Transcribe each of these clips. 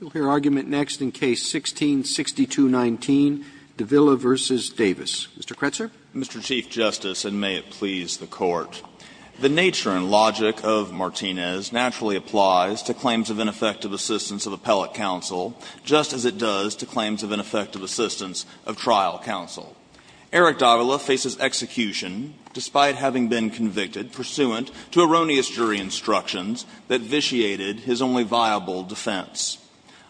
We'll hear argument next in Case 16-6219, Davila v. Davis. Mr. Kretzer. Mr. Chief Justice, and may it please the Court, the nature and logic of Martinez naturally applies to claims of ineffective assistance of appellate counsel, just as it does to claims of ineffective assistance of trial counsel. Eric Davila faces execution despite having been convicted pursuant to erroneous jury instructions that vitiated his only viable defense.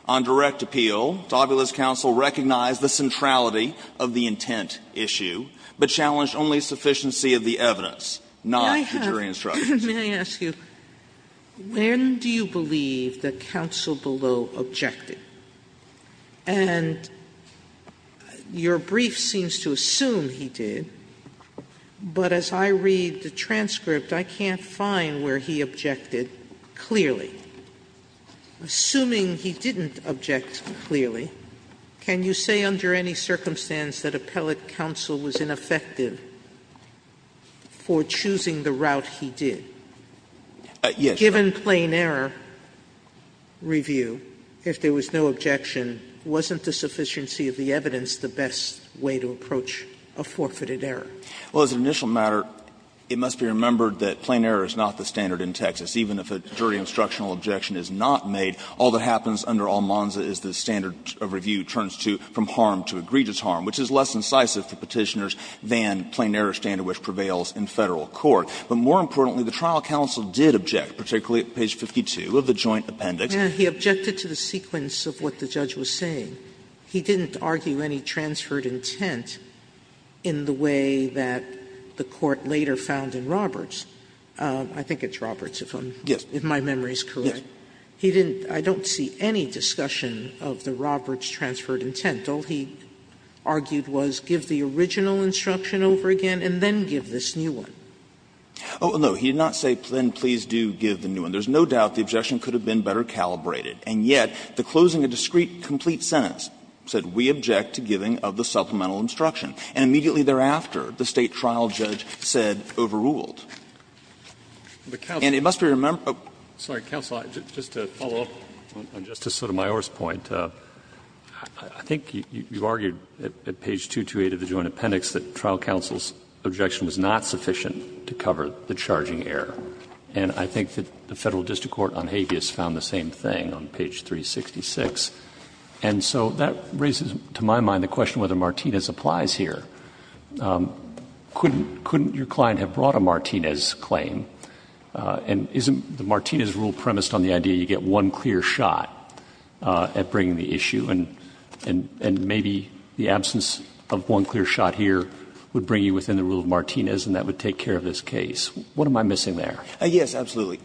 On direct appeal, Davila's counsel recognized the centrality of the intent issue, but challenged only sufficiency of the evidence, not the jury instructions. Sotomayor, may I ask you, when do you believe that counsel below objected? And your brief seems to assume he did, but as I read the transcript, I can't find a line where he objected clearly. Assuming he didn't object clearly, can you say under any circumstance that appellate counsel was ineffective for choosing the route he did? Given plain error review, if there was no objection, wasn't the sufficiency of the evidence the best way to approach a forfeited error? Well, as an initial matter, it must be remembered that plain error is not the standard in Texas. Even if a jury instructional objection is not made, all that happens under Almanza is the standard of review turns to from harm to egregious harm, which is less incisive for Petitioners than plain error standard, which prevails in Federal court. But more importantly, the trial counsel did object, particularly at page 52 of the joint appendix. Sotomayor, he objected to the sequence of what the judge was saying. He didn't argue any transferred intent in the way that the court later found in Roberts. I think it's Roberts, if I'm yes, if my memory is correct. He didn't. I don't see any discussion of the Roberts transferred intent. All he argued was give the original instruction over again and then give this new one. Oh, no, he did not say then please do give the new one. There's no doubt the objection could have been better calibrated. And yet, the closing of a discreet, complete sentence said we object to giving of the supplemental instruction. And immediately thereafter, the State trial judge said overruled. And it must be remembered. Roberts, sorry, counsel, just to follow up on Justice Sotomayor's point, I think you've argued at page 228 of the joint appendix that trial counsel's objection was not sufficient to cover the charging error. And I think that the Federal District Court on habeas found the same thing on page 366. And so that raises, to my mind, the question whether Martinez applies here. Couldn't your client have brought a Martinez claim? And isn't the Martinez rule premised on the idea you get one clear shot at bringing the issue, and maybe the absence of one clear shot here would bring you within the rule of Martinez, and that would take care of this case? What am I missing there? Yes, absolutely.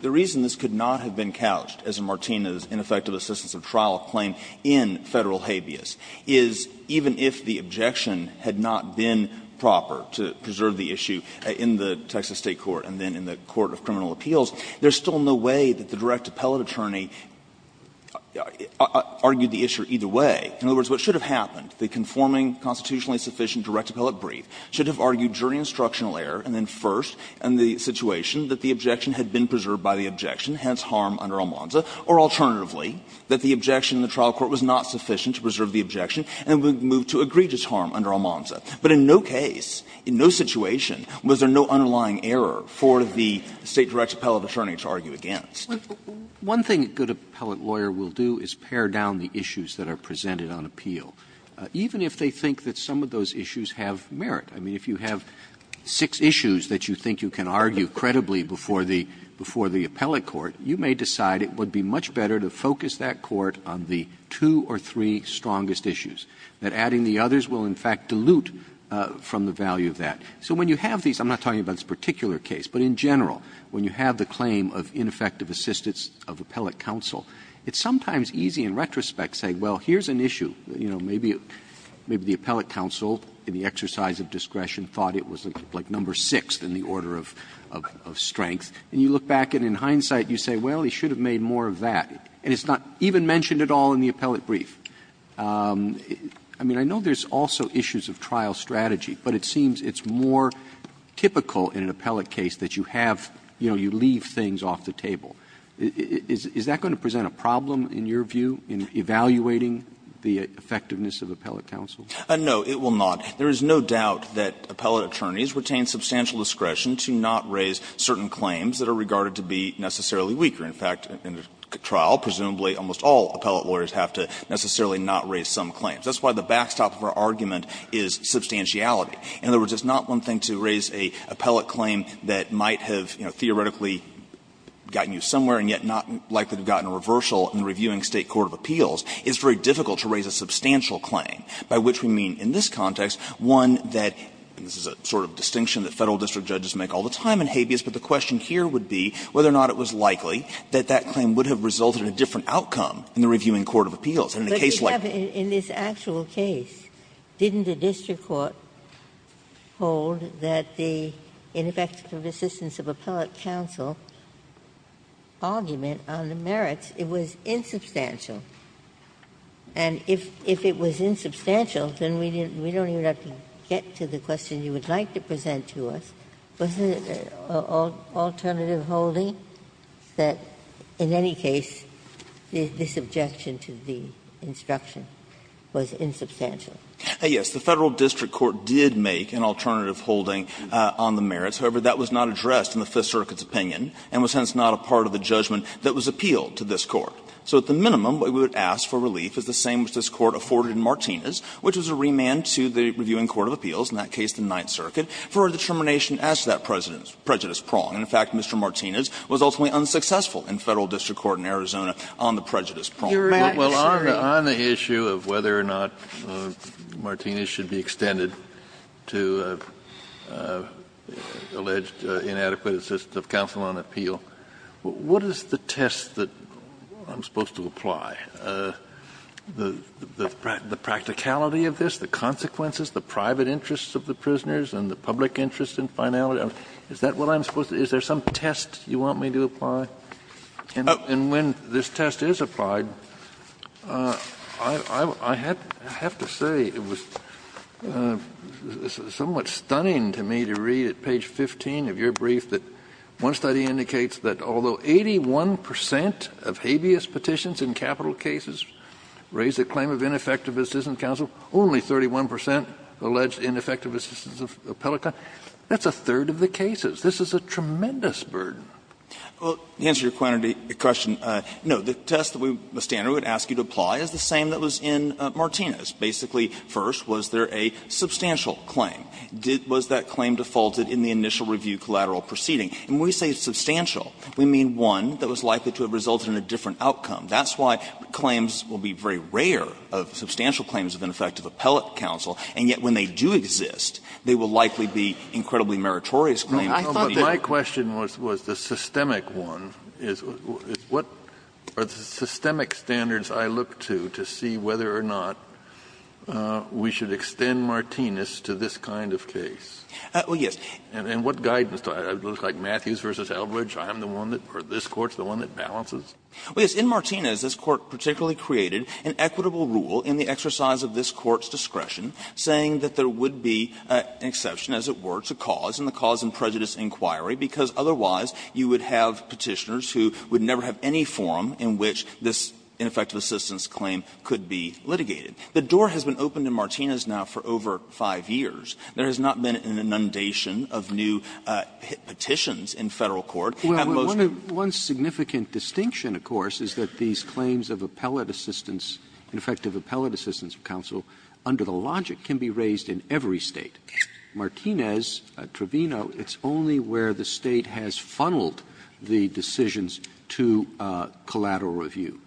The reason this could not have been couched as a Martinez ineffective assistance of trial claim in Federal habeas is even if the objection had not been proper to preserve the issue in the Texas State court and then in the court of criminal appeals, there's still no way that the direct appellate attorney argued the issue either way. In other words, what should have happened, the conforming constitutionally sufficient direct appellate brief should have argued during instructional error, and then first in the situation that the objection had been preserved by the objection, hence harm under Almanza, or alternatively, that the objection in the trial court was not sufficient to preserve the objection and would move to egregious harm under Almanza. But in no case, in no situation, was there no underlying error for the State direct appellate attorney to argue against. Roberts, one thing a good appellate lawyer will do is pare down the issues that are presented on appeal. Even if they think that some of those issues have merit. I mean, if you have six issues that you think you can argue credibly before the appellate court, you may decide it would be much better to focus that court on the two or three strongest issues, that adding the others will in fact dilute from the value of that. So when you have these, I'm not talking about this particular case, but in general, when you have the claim of ineffective assistance of appellate counsel, it's sometimes easy in retrospect to say, well, here's an issue, you know, maybe the appellate counsel, in the exercise of discretion, thought it was like number six in the order of strength. And you look back and in hindsight you say, well, he should have made more of that. And it's not even mentioned at all in the appellate brief. I mean, I know there's also issues of trial strategy, but it seems it's more typical in an appellate case that you have, you know, you leave things off the table. Is that going to present a problem in your view in evaluating the effectiveness of appellate counsel? Gannon, No, it will not. There is no doubt that appellate attorneys retain substantial discretion to not raise certain claims that are regarded to be necessarily weaker. In fact, in a trial, presumably almost all appellate lawyers have to necessarily not raise some claims. That's why the backstop of our argument is substantiality. In other words, it's not one thing to raise an appellate claim that might have, you know, gotten you somewhere and yet not likely to have gotten a reversal in the reviewing State court of appeals. It's very difficult to raise a substantial claim, by which we mean in this context one that, and this is a sort of distinction that Federal district judges make all the time in habeas, but the question here would be whether or not it was likely that that claim would have resulted in a different outcome in the reviewing court of appeals. And in a case like that. Ginsburg. Ginsburg, in this actual case, didn't the district court hold that the ineffective assistance of appellate counsel argument on the merits was insubstantial? And if it was insubstantial, then we don't even have to get to the question you would like to present to us. Was there an alternative holding that in any case there's this objection to the instruction? Was it insubstantial? Yes. The Federal District Court did make an alternative holding on the merits. However, that was not addressed in the Fifth Circuit's opinion and was hence not a part of the judgment that was appealed to this Court. So at the minimum, what we would ask for relief is the same as this Court afforded in Martinez, which was a remand to the Reviewing Court of Appeals, in that case the Ninth Circuit, for a determination as to that prejudice prong. And in fact, Mr. Martinez was ultimately unsuccessful in Federal District Court in Arizona on the prejudice prong. You're right. I'm sorry. Kennedy, on the issue of whether or not Martinez should be extended to alleged inadequate assistance of counsel on appeal, what is the test that I'm supposed to apply? The practicality of this, the consequences, the private interests of the prisoners and the public interest in finality, is that what I'm supposed to do? Is there some test you want me to apply? And when this test is applied, I have to say it was somewhat stunning to me to read at page 15 of your brief that one study indicates that although 81 percent of habeas petitions in capital cases raise the claim of ineffective assistance of counsel, only 31 percent allege ineffective assistance of appellate counsel. That's a third of the cases. This is a tremendous burden. Well, to answer your question, no. The test that we would ask you to apply is the same that was in Martinez. Basically, first, was there a substantial claim? Was that claim defaulted in the initial review collateral proceeding? And when we say substantial, we mean one that was likely to have resulted in a different outcome. That's why claims will be very rare of substantial claims of ineffective appellate counsel, and yet when they do exist, they will likely be incredibly meritorious claims. Kennedy, I thought you were saying that. Kennedy, my question was the systemic one. What are the systemic standards I look to to see whether or not we should extend Martinez to this kind of case? Well, yes. And what guidance? I look like Matthews v. Eldridge. I'm the one that, or this Court is the one that balances? Well, yes. In Martinez, this Court particularly created an equitable rule in the exercise of this Court's discretion saying that there would be an exception, as it were, to cause, and the cause in prejudice inquiry, because otherwise you would have Petitioners who would never have any forum in which this ineffective assistance claim could be litigated. The door has been open to Martinez now for over 5 years. There has not been an inundation of new petitions in Federal court. Have most of them been inundated? Well, one significant distinction, of course, is that these claims of appellate assistance, ineffective appellate assistance of counsel, under the logic, can be raised in every State. Martinez, Trevino, it's only where the State has funneled the decisions to collateral review.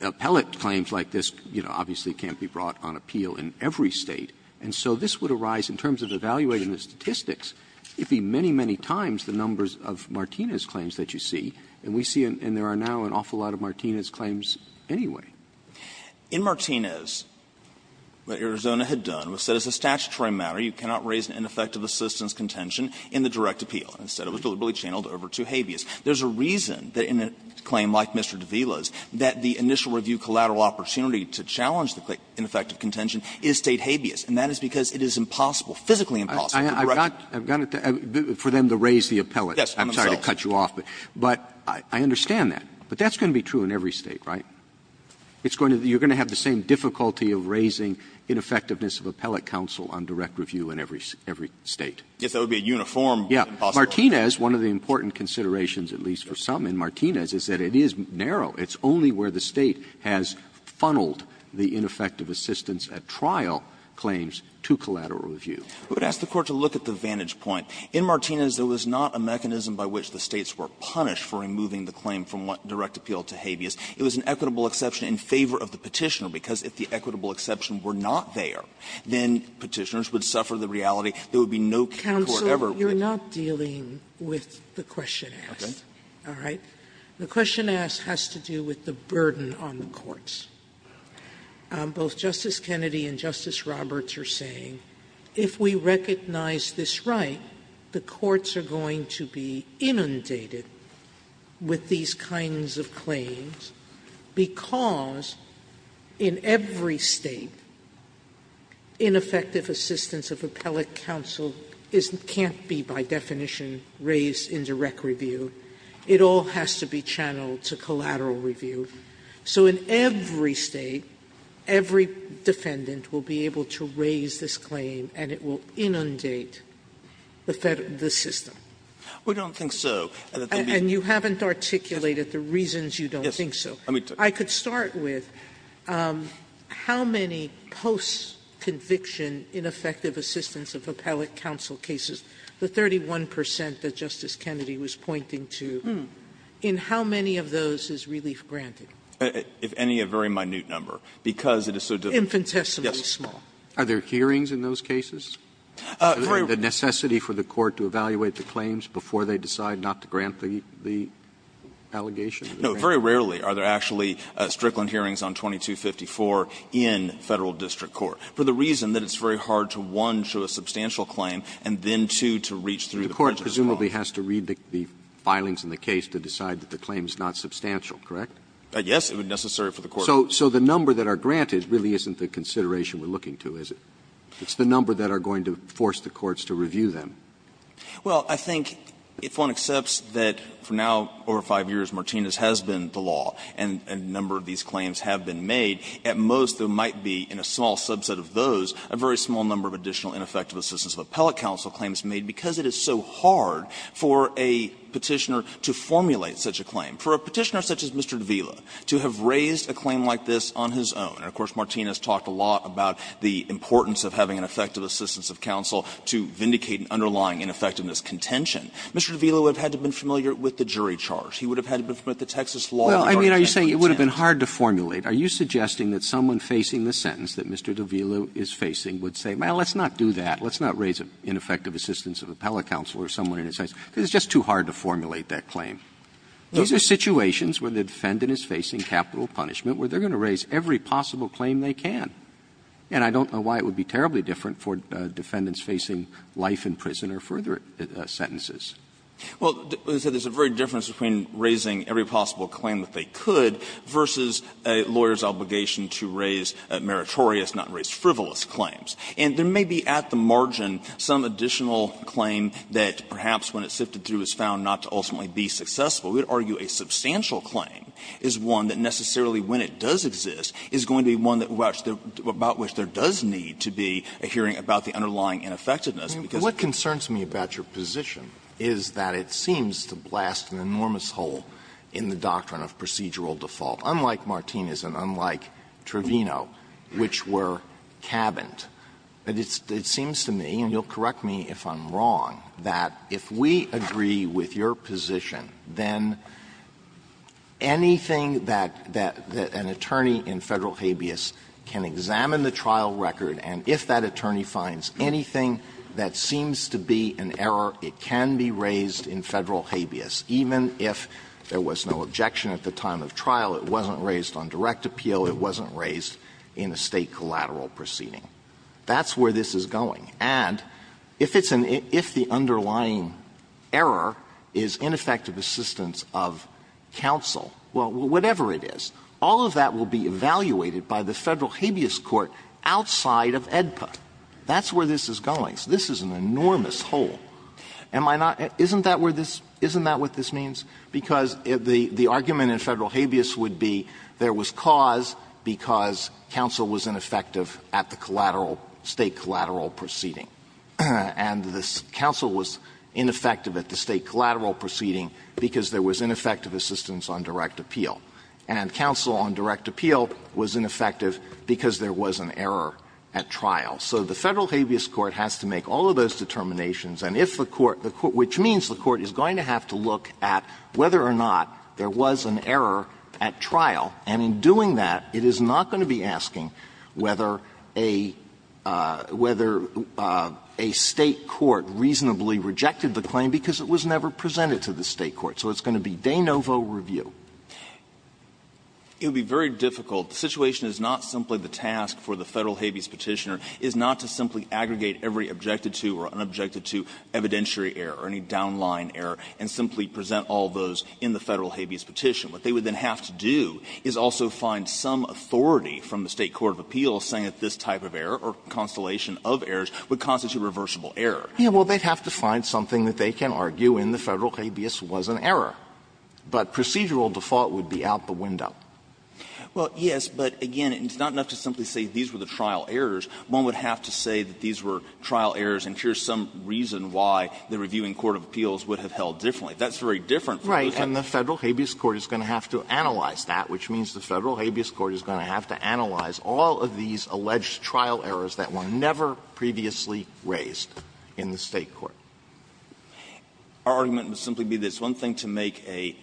Appellate claims like this, you know, obviously can't be brought on appeal in every State. And so this would arise, in terms of evaluating the statistics, it would be many, many times the numbers of Martinez claims that you see. And we see, and there are now, an awful lot of Martinez claims anyway. In Martinez, what Arizona had done was set as a statutory matter, you cannot raise an ineffective assistance contention in the direct appeal. Instead, it was deliberately channeled over to habeas. There's a reason that in a claim like Mr. Davila's, that the initial review collateral opportunity to challenge the ineffective contention is State habeas, and that is because it is impossible, physically impossible. Roberts. Roberts. I've got to, for them to raise the appellate. Yes. I'm sorry to cut you off, but I understand that. But that's going to be true in every State, right? It's going to be, you're going to have the same difficulty of raising ineffectiveness of appellate counsel on direct review in every State. If that would be a uniform. Yeah. Martinez, one of the important considerations, at least for some in Martinez, is that it is narrow. It's only where the State has funneled the ineffective assistance at trial claims to collateral review. I would ask the Court to look at the vantage point. In Martinez, there was not a mechanism by which the States were punished for removing the claim from direct appeal to habeas. It was an equitable exception in favor of the Petitioner, because if the equitable exception were not there, then Petitioners would suffer the reality there would be no court ever would. Sotomayor, you're not dealing with the question asked. Okay. All right? The question asked has to do with the burden on the courts. Both Justice Kennedy and Justice Roberts are saying, if we recognize this right, the courts are going to be inundated with these kinds of claims, because in every State, ineffective assistance of appellate counsel can't be, by definition, raised in direct review. It all has to be channeled to collateral review. So in every State, every defendant will be able to raise this claim, and it will inundate the system. We don't think so. And you haven't articulated the reasons you don't think so. I could start with how many post-conviction ineffective assistance of appellate counsel cases, the 31 percent that Justice Kennedy was pointing to, in how many of those is relief granted? If any, a very minute number, because it is so difficult. Infant testimony is small. Are there hearings in those cases? Is there a necessity for the court to evaluate the claims before they decide not to grant the allegation? No. Very rarely are there actually Strickland hearings on 2254 in Federal district court, for the reason that it's very hard to, one, show a substantial claim, and then, two, to reach through the budget. The court presumably has to read the filings in the case to decide that the claim is not substantial, correct? Yes, it would be necessary for the court to do that. So the number that are granted really isn't the consideration we're looking to, is it? It's the number that are going to force the courts to review them. Well, I think if one accepts that for now, over 5 years, Martinez has been the law and a number of these claims have been made, at most there might be, in a small subset of those, a very small number of additional ineffective assistance of appellate counsel claims made because it is so hard for a Petitioner to formulate such a claim, for a Petitioner such as Mr. Davila to have raised a claim like this on his own. And, of course, Martinez talked a lot about the importance of having an effective assistance of counsel to vindicate an underlying ineffectiveness contention. Mr. Davila would have had to have been familiar with the jury charge. He would have had to have been familiar with the Texas law. Well, I mean, are you saying it would have been hard to formulate? Are you suggesting that someone facing the sentence that Mr. Davila is facing would say, well, let's not do that. Let's not raise an ineffective assistance of appellate counsel or someone in his sentence, because it's just too hard to formulate that claim? These are situations where the defendant is facing capital punishment, where they're going to raise every possible claim they can. And I don't know why it would be terribly different for defendants facing life in prison or further sentences. Well, there's a very big difference between raising every possible claim that they could versus a lawyer's obligation to raise meritorious, not raise frivolous claims. And there may be at the margin some additional claim that perhaps when it's sifted through is found not to ultimately be successful. We would argue a substantial claim is one that necessarily, when it does exist, is going to be one that we're actually going to be about which there does need to be a hearing about the underlying ineffectiveness. Alitoso What concerns me about your position is that it seems to blast an enormous hole in the doctrine of procedural default, unlike Martinez and unlike Trevino, which were cabined. And it seems to me, and you'll correct me if I'm wrong, that if we agree that the defendant does not agree with your position, then anything that an attorney in Federal habeas can examine the trial record, and if that attorney finds anything that seems to be an error, it can be raised in Federal habeas, even if there was no objection at the time of trial, it wasn't raised on direct appeal, it wasn't raised in a State collateral proceeding. That's where this is going. And if it's an — if the underlying error is ineffective assistance of counsel, well, whatever it is, all of that will be evaluated by the Federal habeas court outside of AEDPA. That's where this is going. So this is an enormous hole. Am I not — isn't that where this — isn't that what this means? Because the argument in Federal habeas would be there was cause because counsel was ineffective at the collateral — State collateral proceeding, and the counsel was ineffective at the State collateral proceeding because there was ineffective assistance on direct appeal, and counsel on direct appeal was ineffective because there was an error at trial. So the Federal habeas court has to make all of those determinations, and if the court — which means the court is going to have to look at whether or not there was an error at trial, and in doing that, it is not going to be asking whether a — whether a State court reasonably rejected the claim because it was never presented to the State court. So it's going to be de novo review. It would be very difficult. The situation is not simply the task for the Federal habeas Petitioner is not to simply aggregate every objected-to or unobjected-to evidentiary error or any downline error and simply present all those in the Federal habeas petition. What they would then have to do is also find some authority from the State court of appeals saying that this type of error or constellation of errors would constitute reversible error. Yeah, well, they'd have to find something that they can argue in the Federal habeas was an error, but procedural default would be out the window. Well, yes, but again, it's not enough to simply say these were the trial errors. One would have to say that these were trial errors and here's some reason why the reviewing court of appeals would have held differently. That's very different from what happened in the Federal habeas court. The Federal habeas court is going to have to analyze that, which means the Federal habeas court is going to have to analyze all of these alleged trial errors that were never previously raised in the State court. Our argument would simply be that it's one thing to make a,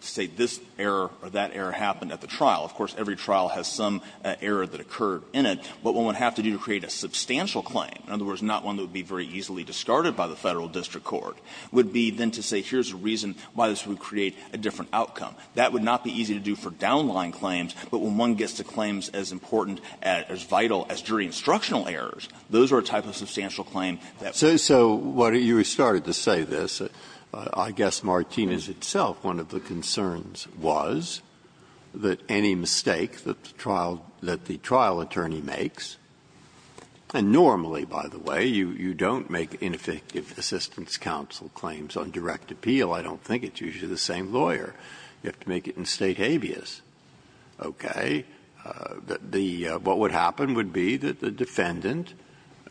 say, this error or that error happen at the trial. Of course, every trial has some error that occurred in it, but one would have to do to create a substantial claim, in other words, not one that would be very easily discarded by the Federal district court, would be then to say here's the reason why this would create a different outcome. That would not be easy to do for downline claims, but when one gets to claims as important, as vital as jury instructional errors, those are a type of substantial claim that would be. Breyer. So you started to say this. I guess Martinez itself, one of the concerns was that any mistake that the trial attorney makes, and normally, by the way, you don't make ineffective assistance of counsel claims on direct appeal. I don't think it's usually the same lawyer. You have to make it in State habeas. Okay. The what would happen would be that the defendant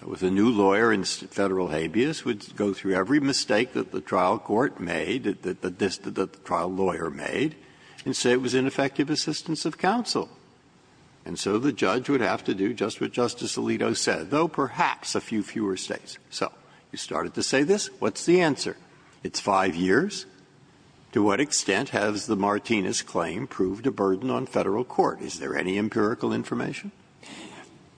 with a new lawyer in Federal habeas would go through every mistake that the trial court made, that the trial lawyer made, and say it was ineffective assistance of counsel. And so the judge would have to do just what Justice Alito said, though perhaps a few fewer mistakes. So you started to say this. What's the answer? It's 5 years? To what extent has the Martinez claim proved a burden on Federal court? Is there any empirical information?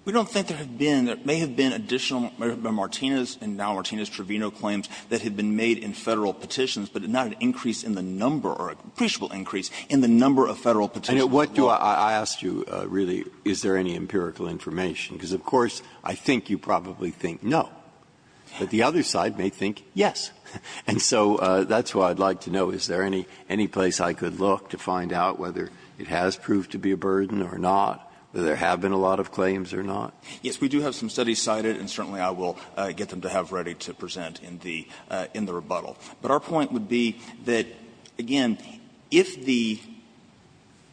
We don't think there have been. There may have been additional Martinez and now Martinez-Trevino claims that have been made in Federal petitions, but not an increase in the number or appreciable increase in the number of Federal petitions. And what do I ask you, really, is there any empirical information? Because, of course, I think you probably think no. But the other side may think yes. And so that's why I'd like to know, is there any place I could look to find out whether it has proved to be a burden or not, that there have been a lot of claims or not? Yes, we do have some studies cited, and certainly I will get them to have ready to present in the rebuttal. But our point would be that, again, if the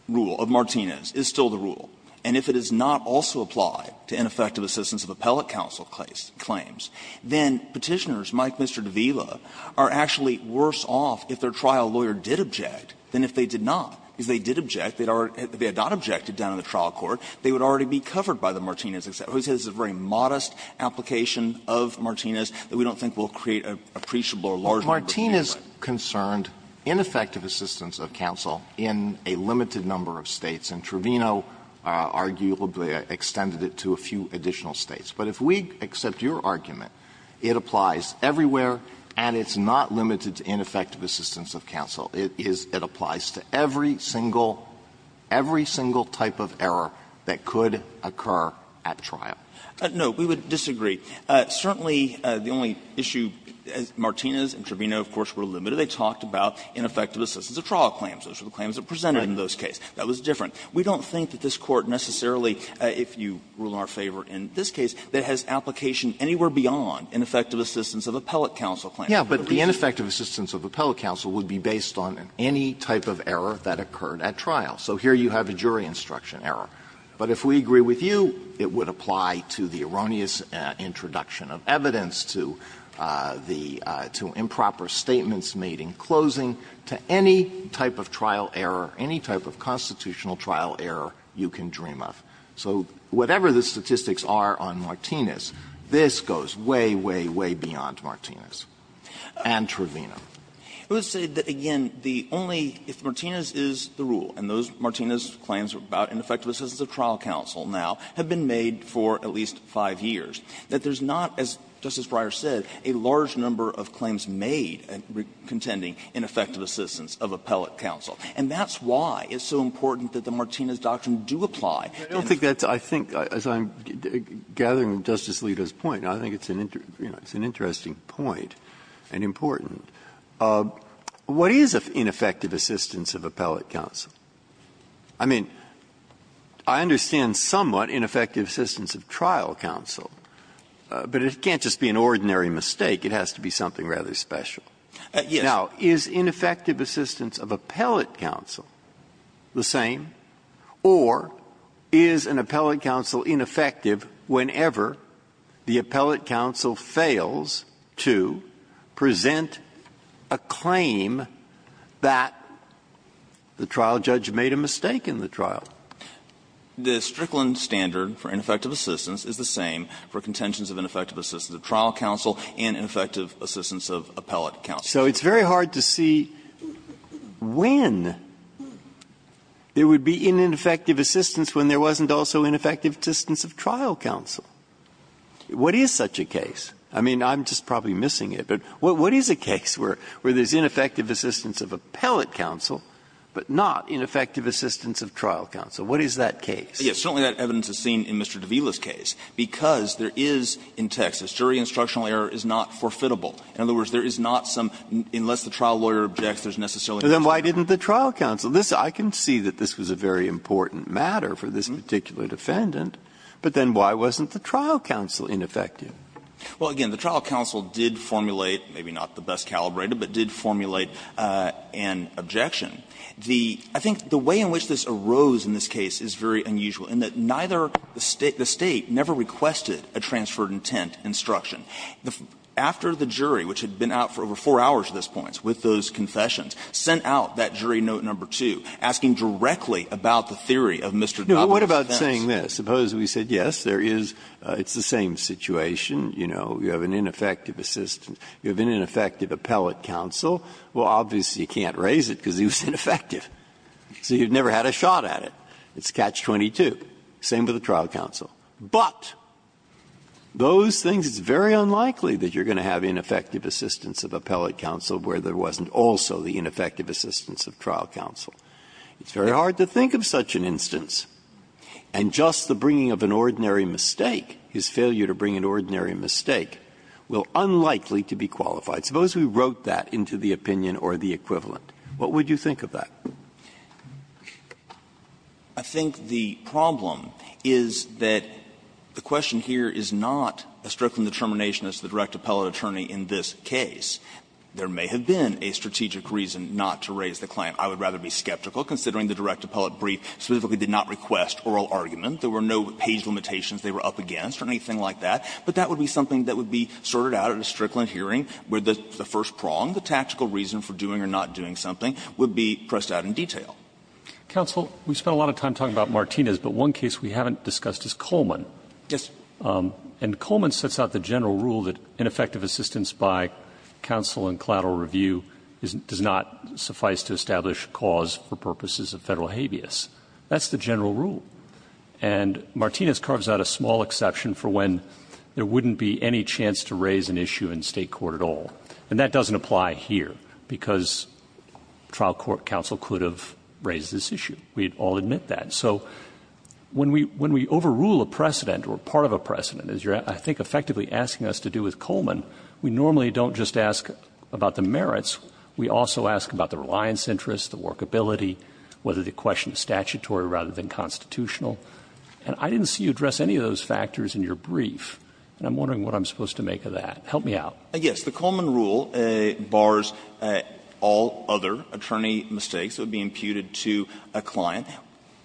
rule of Martinez is still the rule, and if it is not also applied to ineffective assistance of appellate counsel claims, then Petitioners, Mike, Mr. D'Aviva, are actually worse off if their trial lawyer did object than if they did not. If they did object, if they had not objected down in the trial court, they would already be covered by the Martinez exception. This is a very modest application of Martinez that we don't think will create an appreciable or large number of claims. Alitoson Martinez concerned ineffective assistance of counsel in a limited number of States, and Trevino arguably extended it to a few additional States. But if we accept your argument, it applies everywhere, and it's not limited to ineffective assistance of counsel. It is, it applies to every single, every single type of error that could occur at trial. No, we would disagree. Certainly the only issue, as Martinez and Trevino, of course, were limited, they talked about ineffective assistance of trial claims. Those were the claims that were presented in those cases. That was different. We don't think that this Court necessarily, if you rule in our favor in this case, that has application anywhere beyond ineffective assistance of appellate counsel Alitoson Martinez, Jr. Yes, but the ineffective assistance of appellate counsel would be based on any type of error that occurred at trial. So here you have a jury instruction error. But if we agree with you, it would apply to the erroneous introduction of evidence to the improper statements made in closing, to any type of trial error, any type of constitutional trial error you can dream of. So whatever the statistics are on Martinez, this goes way, way, way beyond Martinez and Trevino. I would say that, again, the only, if Martinez is the rule, and those Martinez claims about ineffective assistance of trial counsel now have been made for at least five years, that there's not, as Justice Breyer said, a large number of claims made contending ineffective assistance of appellate counsel. And that's why it's so important that the Martinez doctrine do apply. Breyer I don't think that's, I think, as I'm gathering Justice Alito's point, I think it's an interesting point and important. What is ineffective assistance of appellate counsel? I mean, I understand somewhat ineffective assistance of trial counsel, but it can't just be an ordinary mistake. It has to be something rather special. Now, is ineffective assistance of appellate counsel? The same? Or is an appellate counsel ineffective whenever the appellate counsel fails to present a claim that the trial judge made a mistake in the trial? The Strickland standard for ineffective assistance is the same for contentions of ineffective assistance of trial counsel and ineffective assistance of appellate counsel. So it's very hard to see when there would be ineffective assistance when there wasn't also ineffective assistance of trial counsel. What is such a case? I mean, I'm just probably missing it, but what is a case where there's ineffective assistance of appellate counsel, but not ineffective assistance of trial counsel? What is that case? McAllister Yes, certainly that evidence is seen in Mr. de Villa's case, because there is, in Texas, jury instructional error is not forfeitable. In other words, there is not some unless the trial lawyer objects, there's necessarily an exception. Breyer Then why didn't the trial counsel? I can see that this was a very important matter for this particular defendant, but then why wasn't the trial counsel ineffective? McAllister Well, again, the trial counsel did formulate, maybe not the best calibrated, but did formulate an objection. I think the way in which this arose in this case is very unusual, in that neither the State, the State never requested a transferred intent instruction. After the jury, which had been out for over four hours at this point with those confessions, sent out that jury note number 2, asking directly about the theory of Mr. de Villa's offense. Breyer Now, what about saying this? Suppose we said, yes, there is, it's the same situation, you know, you have an ineffective assistant, you have an ineffective appellate counsel, well, obviously you can't raise it because he was ineffective, so you've never had a shot at it. It's catch-22, same with the trial counsel. But those things, it's very unlikely that you're going to have ineffective assistance of appellate counsel where there wasn't also the ineffective assistance of trial counsel. It's very hard to think of such an instance, and just the bringing of an ordinary mistake, his failure to bring an ordinary mistake, will unlikely to be qualified. Suppose we wrote that into the opinion or the equivalent, what would you think of that? I think the problem is that the question here is not a Strickland determination as to the direct appellate attorney in this case. There may have been a strategic reason not to raise the claim. I would rather be skeptical, considering the direct appellate brief specifically did not request oral argument. There were no page limitations they were up against or anything like that. But that would be something that would be sorted out at a Strickland hearing, where the first prong, the tactical reason for doing or not doing something, would be pressed out in detail. Roberts' Counsel, we've spent a lot of time talking about Martinez, but one case we haven't discussed is Coleman. Yes. And Coleman sets out the general rule that ineffective assistance by counsel in collateral review does not suffice to establish cause for purposes of Federal habeas. That's the general rule. And Martinez carves out a small exception for when there wouldn't be any chance to raise an issue in State court at all. And that doesn't apply here, because trial court counsel could have raised this issue. We'd all admit that. So when we overrule a precedent or part of a precedent, as you're, I think, effectively asking us to do with Coleman, we normally don't just ask about the merits. We also ask about the reliance interest, the workability, whether the question is statutory rather than constitutional. And I didn't see you address any of those factors in your brief, and I'm wondering what I'm supposed to make of that. Help me out. Yes. The Coleman rule bars all other attorney mistakes that would be imputed to a client.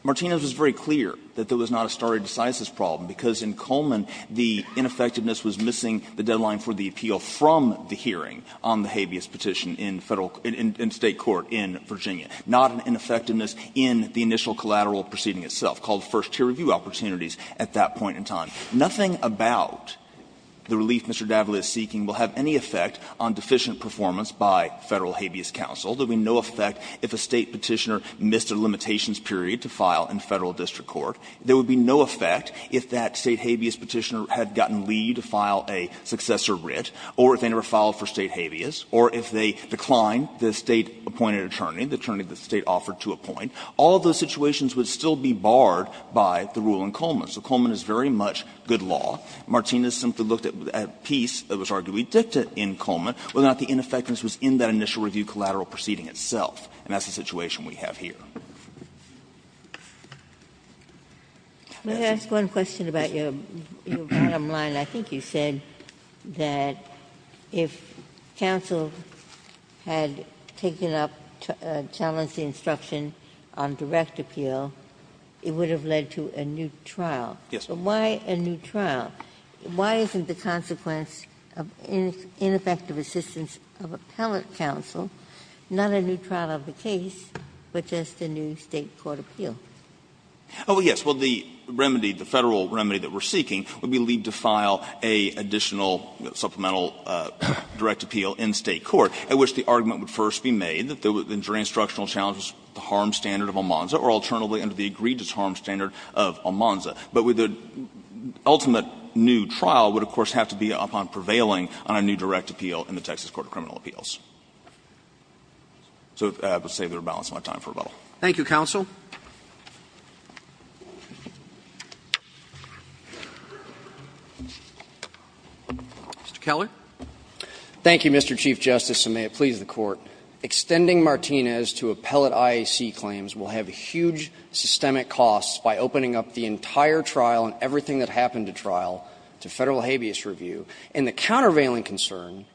Martinez was very clear that there was not a stare decisis problem, because in Coleman the ineffectiveness was missing the deadline for the appeal from the hearing on the habeas petition in Federal – in State court in Virginia, not an ineffectiveness in the initial collateral proceeding itself, called first-tier review opportunities at that point in time. Nothing about the relief Mr. Davley is seeking will have any effect on deficient performance by Federal habeas counsel. There would be no effect if a State petitioner missed a limitations period to file in Federal district court. There would be no effect if that State habeas petitioner had gotten leave to file a successor writ, or if they never filed for State habeas, or if they declined the State-appointed attorney, the attorney the State offered to appoint. All those situations would still be barred by the rule in Coleman. So Coleman is very much good law. Martinez simply looked at a piece that was arguably dictated in Coleman whether or not the ineffectiveness was in that initial review from the collateral procedure itself, and that's the situation we have here. Ginsburg asthma question about your bottom line. I think you said that if counsel had taken up, challenged the instruction on direct appeal, it would have led to a new trial. So why a new trial? Why isn't the consequence of ineffective assistance of appellate counsel not a new trial of the case, but just a new State court appeal? Oh, yes. Well, the remedy, the Federal remedy that we're seeking would be to file an additional supplemental direct appeal in State court, at which the argument would first be made that the instructional challenge was the harm standard of Almanza, or alternatively under the agreed-to-harm standard of Almanza. But the ultimate new trial would, of course, have to be upon prevailing on a new direct appeal in the Texas Court of Criminal Appeals. So I would say we're balancing on time for rebuttal. Thank you, counsel. Mr. Keller. Thank you, Mr. Chief Justice, and may it please the Court. Extending Martinez to appellate IAC claims will have huge systemic costs by opening up the entire trial and everything that happened at trial to Federal habeas review. And the countervailing concern,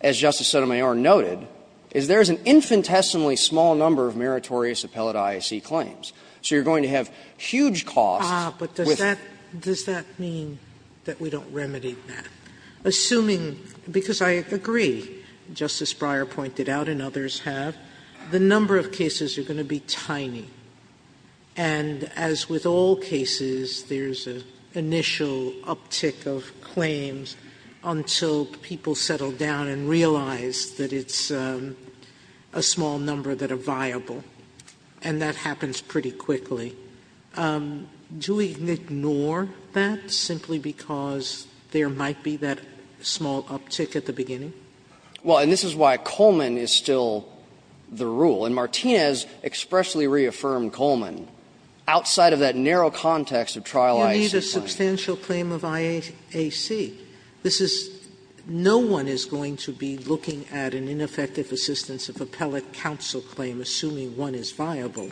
as Justice Sotomayor noted, is there is an infinitesimally small number of meritorious appellate IAC claims. So you're going to have huge costs with them. Sotomayor, but does that mean that we don't remedy that? Assuming, because I agree, Justice Breyer pointed out and others have, the number of cases are going to be tiny. And as with all cases, there's an initial uptick of claims until people settle down and realize that it's a small number that are viable. And that happens pretty quickly. Do we ignore that simply because there might be that small uptick at the beginning? Well, and this is why Coleman is still the rule. And Martinez expressly reaffirmed Coleman. Outside of that narrow context of trial IAC claims. You need a substantial claim of IAC. This is no one is going to be looking at an ineffective assistance of appellate counsel claim, assuming one is viable,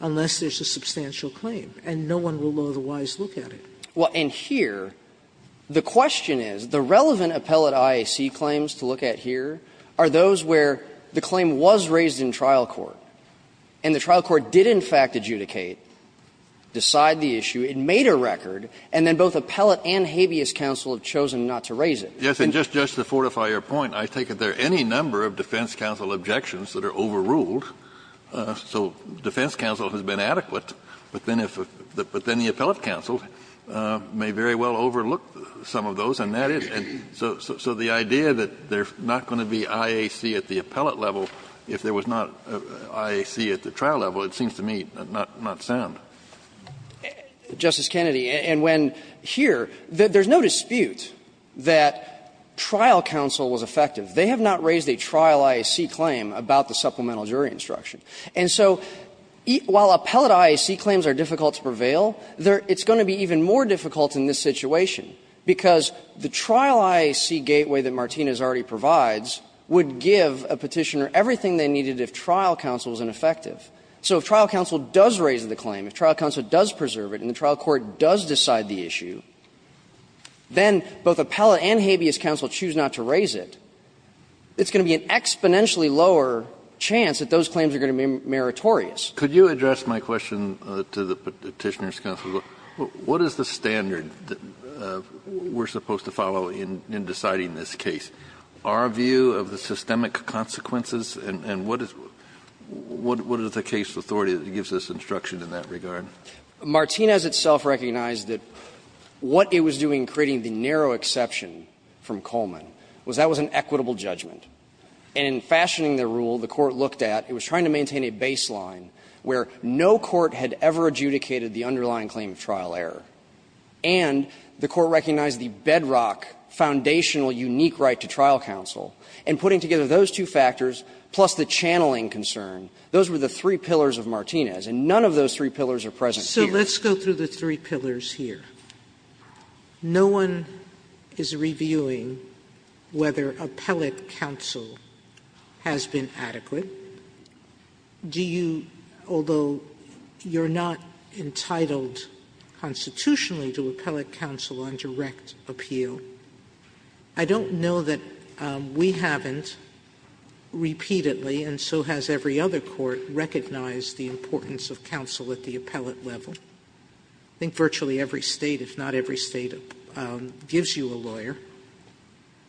unless there's a substantial claim. And no one will otherwise look at it. Well, and here, the question is, the relevant appellate IAC claims to look at here are those where the claim was raised in trial court, and the trial court did, in fact, adjudicate, decide the issue, it made a record, and then both appellate and habeas counsel have chosen not to raise it. Yes, and just to fortify your point, I take it there are any number of defense counsel objections that are overruled, so defense counsel has been adequate, but then the appellate counsel may very well overlook some of those, and that is so the idea that there's not going to be IAC at the appellate level if there was not IAC at the trial level, it seems to me not sound. Justice Kennedy, and when here, there's no dispute that trial counsel was effective. They have not raised a trial IAC claim about the supplemental jury instruction. And so while appellate IAC claims are difficult to prevail, it's going to be even more difficult in this situation, because the trial IAC gateway that Martinez already provides would give a Petitioner everything they needed if trial counsel was ineffective. So if trial counsel does raise the claim, if trial counsel does preserve it and the trial court does decide the issue, then both appellate and habeas counsel choose not to raise it, it's going to be an exponentially lower chance that those claims are going to be meritorious. Kennedy, could you address my question to the Petitioner's counsel? What is the standard that we're supposed to follow in deciding this case? Our view of the systemic consequences, and what is the case authority that gives us instruction in that regard? Martinez itself recognized that what it was doing in creating the narrow exception from Coleman was that was an equitable judgment. And in fashioning the rule, the Court looked at, it was trying to maintain a baseline where no court had ever adjudicated the underlying claim of trial error, and the Court recognized the bedrock foundational unique right to trial counsel, and putting together those two factors, plus the channeling concern, those were the three pillars of Martinez, and none of those three pillars are present here. Sotomayor, no one is reviewing whether appellate counsel has been adequate. Do you, although you're not entitled constitutionally to appellate counsel under a direct appeal, I don't know that we haven't repeatedly, and so has every other court, recognized the importance of counsel at the appellate level. I think virtually every State, if not every State, gives you a lawyer.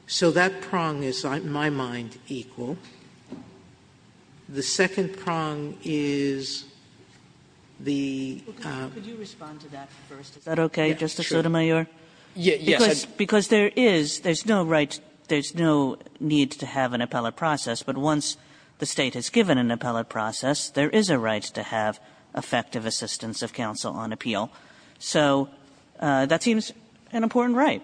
So that prong is, in my mind, equal. The second prong is the- Could you respond to that first? Is that okay, Justice Sotomayor? Because there is, there's no right, there's no need to have an appellate process, but once the State has given an appellate process, there is a right to have effective assistance of counsel on appeal. So that seems an important right.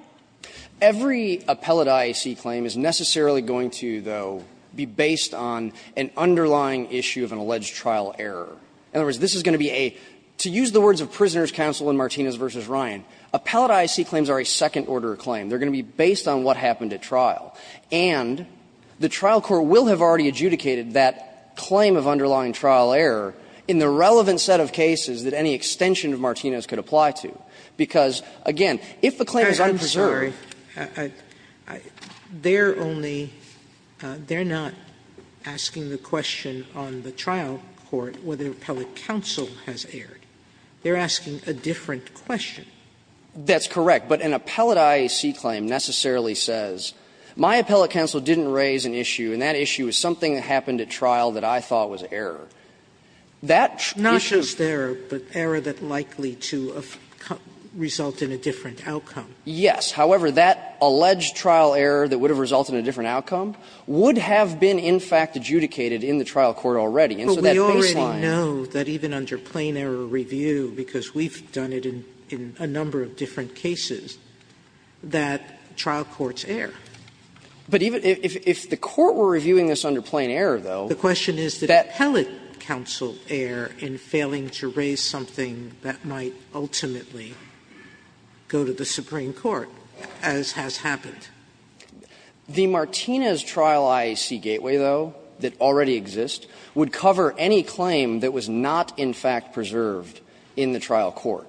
Every appellate IAC claim is necessarily going to, though, be based on an underlying issue of an alleged trial error. In other words, this is going to be a, to use the words of Prisoners' Counsel in Martinez v. Ryan, appellate IAC claims are a second-order claim. They're going to be based on what happened at trial. And the trial court will have already adjudicated that claim of underlying trial error in the relevant set of cases that any extension of Martinez could apply to, because, again, if the claim is unpreserved- Sotomayor, I'm sorry. They're only, they're not asking the question on the trial court whether appellate counsel has erred. They're asking a different question. That's correct. But an appellate IAC claim necessarily says, my appellate counsel didn't raise an issue, and that issue is something that happened at trial that I thought was error. That issue- Not just error, but error that likely to result in a different outcome. Yes. However, that alleged trial error that would have resulted in a different outcome would have been, in fact, adjudicated in the trial court already, and so that baseline- But even if the court were reviewing this under plain error, though- The question is that appellate counsel err in failing to raise something that might ultimately go to the Supreme Court, as has happened. The Martinez trial IAC gateway, though, that already exists, would cover any claim that was not, in fact, preserved in the trial court.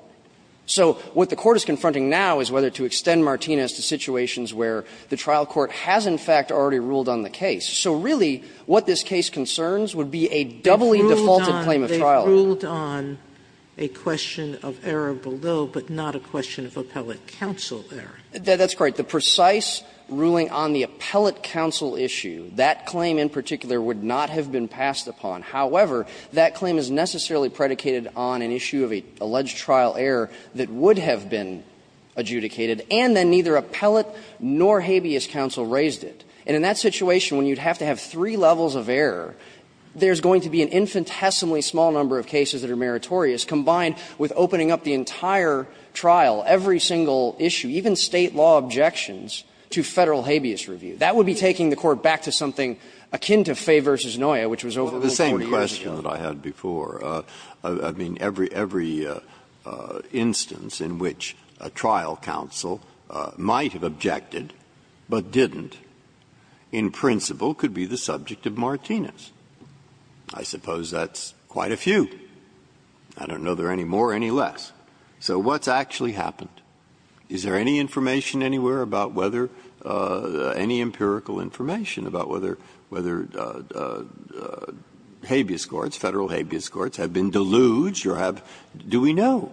So what the court is confronting now is whether to extend Martinez to situations where the trial court has, in fact, already ruled on the case. So really, what this case concerns would be a doubly defaulted claim of trial. They ruled on a question of error below, but not a question of appellate counsel error. That's correct. The precise ruling on the appellate counsel issue, that claim in particular would not have been passed upon. However, that claim is necessarily predicated on an issue of an alleged trial error that would have been adjudicated, and then neither appellate nor habeas counsel raised it. And in that situation, when you'd have to have three levels of error, there's going to be an infinitesimally small number of cases that are meritorious, combined with opening up the entire trial, every single issue, even State law objections to Federal habeas review. That would be taking the court back to something akin to Fay v. Noya, which was over Breyer. But it's the same question that I had before. I mean, every instance in which a trial counsel might have objected, but didn't, in principle, could be the subject of Martinez. I suppose that's quite a few. I don't know if there are any more or any less. So what's actually happened? Is there any information anywhere about whether any empirical information about whether habeas courts, Federal habeas courts, have been deluged, or do we know?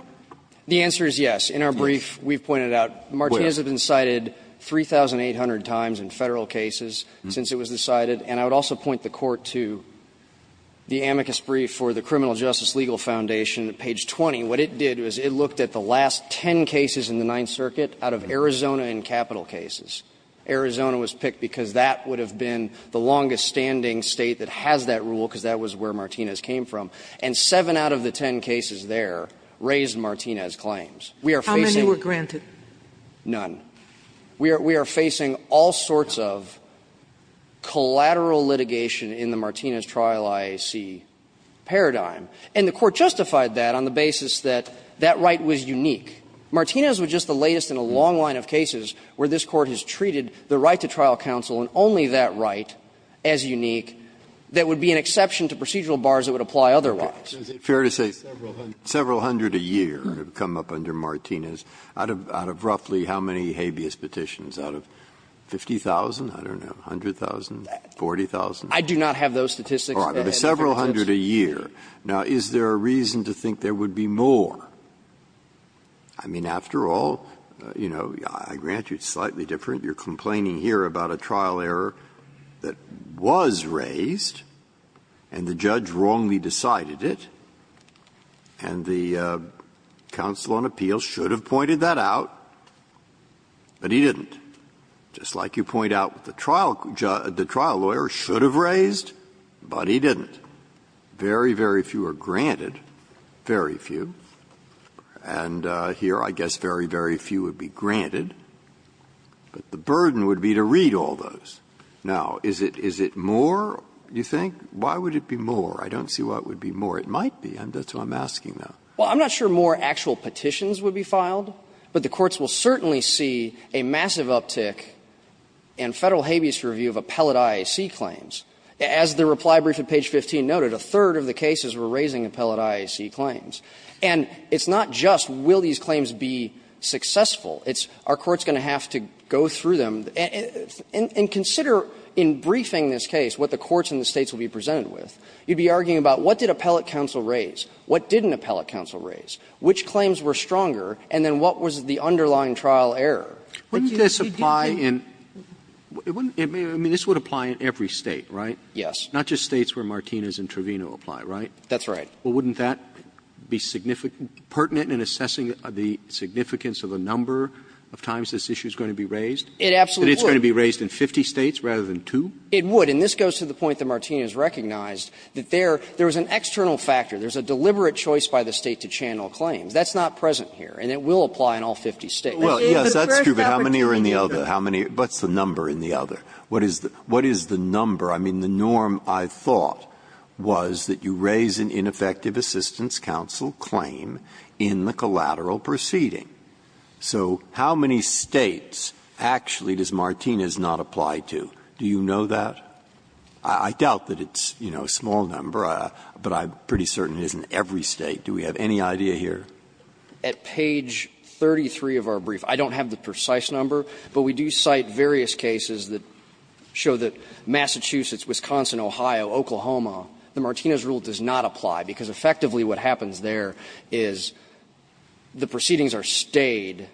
The answer is yes. In our brief, we've pointed out Martinez has been cited 3,800 times in Federal cases since it was decided. And I would also point the Court to the amicus brief for the Criminal Justice Legal Foundation, page 20. What it did was it looked at the last ten cases in the Ninth Circuit out of Arizona and capital cases. Arizona was picked because that would have been the longest-standing State that has that rule, because that was where Martinez came from. And seven out of the ten cases there raised Martinez claims. We are facing none. We are facing all sorts of collateral litigation in the Martinez trial IAC paradigm. And the Court justified that on the basis that that right was unique. Martinez was just the latest in a long line of cases where this Court has treated the right to trial counsel and only that right as unique that would be an exception to procedural bars that would apply otherwise. Breyer. Is it fair to say several hundred a year have come up under Martinez, out of roughly how many habeas petitions? Out of 50,000, I don't know, 100,000, 40,000? I do not have those statistics. Several hundred a year. Now, is there a reason to think there would be more? I mean, after all, you know, I grant you it's slightly different. You're complaining here about a trial error that was raised and the judge wrongly decided it, and the counsel on appeal should have pointed that out, but he didn't. Just like you point out the trial lawyer should have raised, but he didn't. Very, very few are granted, very few. And here I guess very, very few would be granted, but the burden would be to read all those. Now, is it more, you think? Why would it be more? I don't see why it would be more. It might be. That's what I'm asking, though. Well, I'm not sure more actual petitions would be filed, but the courts will certainly see a massive uptick in Federal habeas review of appellate IAC claims. As the reply brief at page 15 noted, a third of the cases were raising appellate IAC claims. And it's not just will these claims be successful, it's are courts going to have to go through them. And consider in briefing this case what the courts in the States will be presented with. You'd be arguing about what did appellate counsel raise, what didn't appellate counsel raise, which claims were stronger, and then what was the underlying trial error. But you could do that. Wouldn't this apply in – I mean, this would apply in every State, right? Yes. Not just States where Martinez and Trevino apply, right? That's right. Well, wouldn't that be significant – pertinent in assessing the significance of the number of times this issue is going to be raised? It absolutely would. That it's going to be raised in 50 States rather than two? It would. And this goes to the point that Martinez recognized, that there is an external factor. There's a deliberate choice by the State to channel claims. That's not present here. And it will apply in all 50 States. Well, yes, that's true, but how many are in the other? How many – what's the number in the other? What is the number? I mean, the norm, I thought, was that you raise an ineffective assistance counsel claim in the collateral proceeding. So how many States actually does Martinez not apply to? Do you know that? I doubt that it's, you know, a small number, but I'm pretty certain it is in every State. Do we have any idea here? At page 33 of our brief, I don't have the precise number, but we do cite various cases that show that Massachusetts, Wisconsin, Ohio, Oklahoma, the Martinez rule does not apply, because effectively what happens there is the proceedings are stayed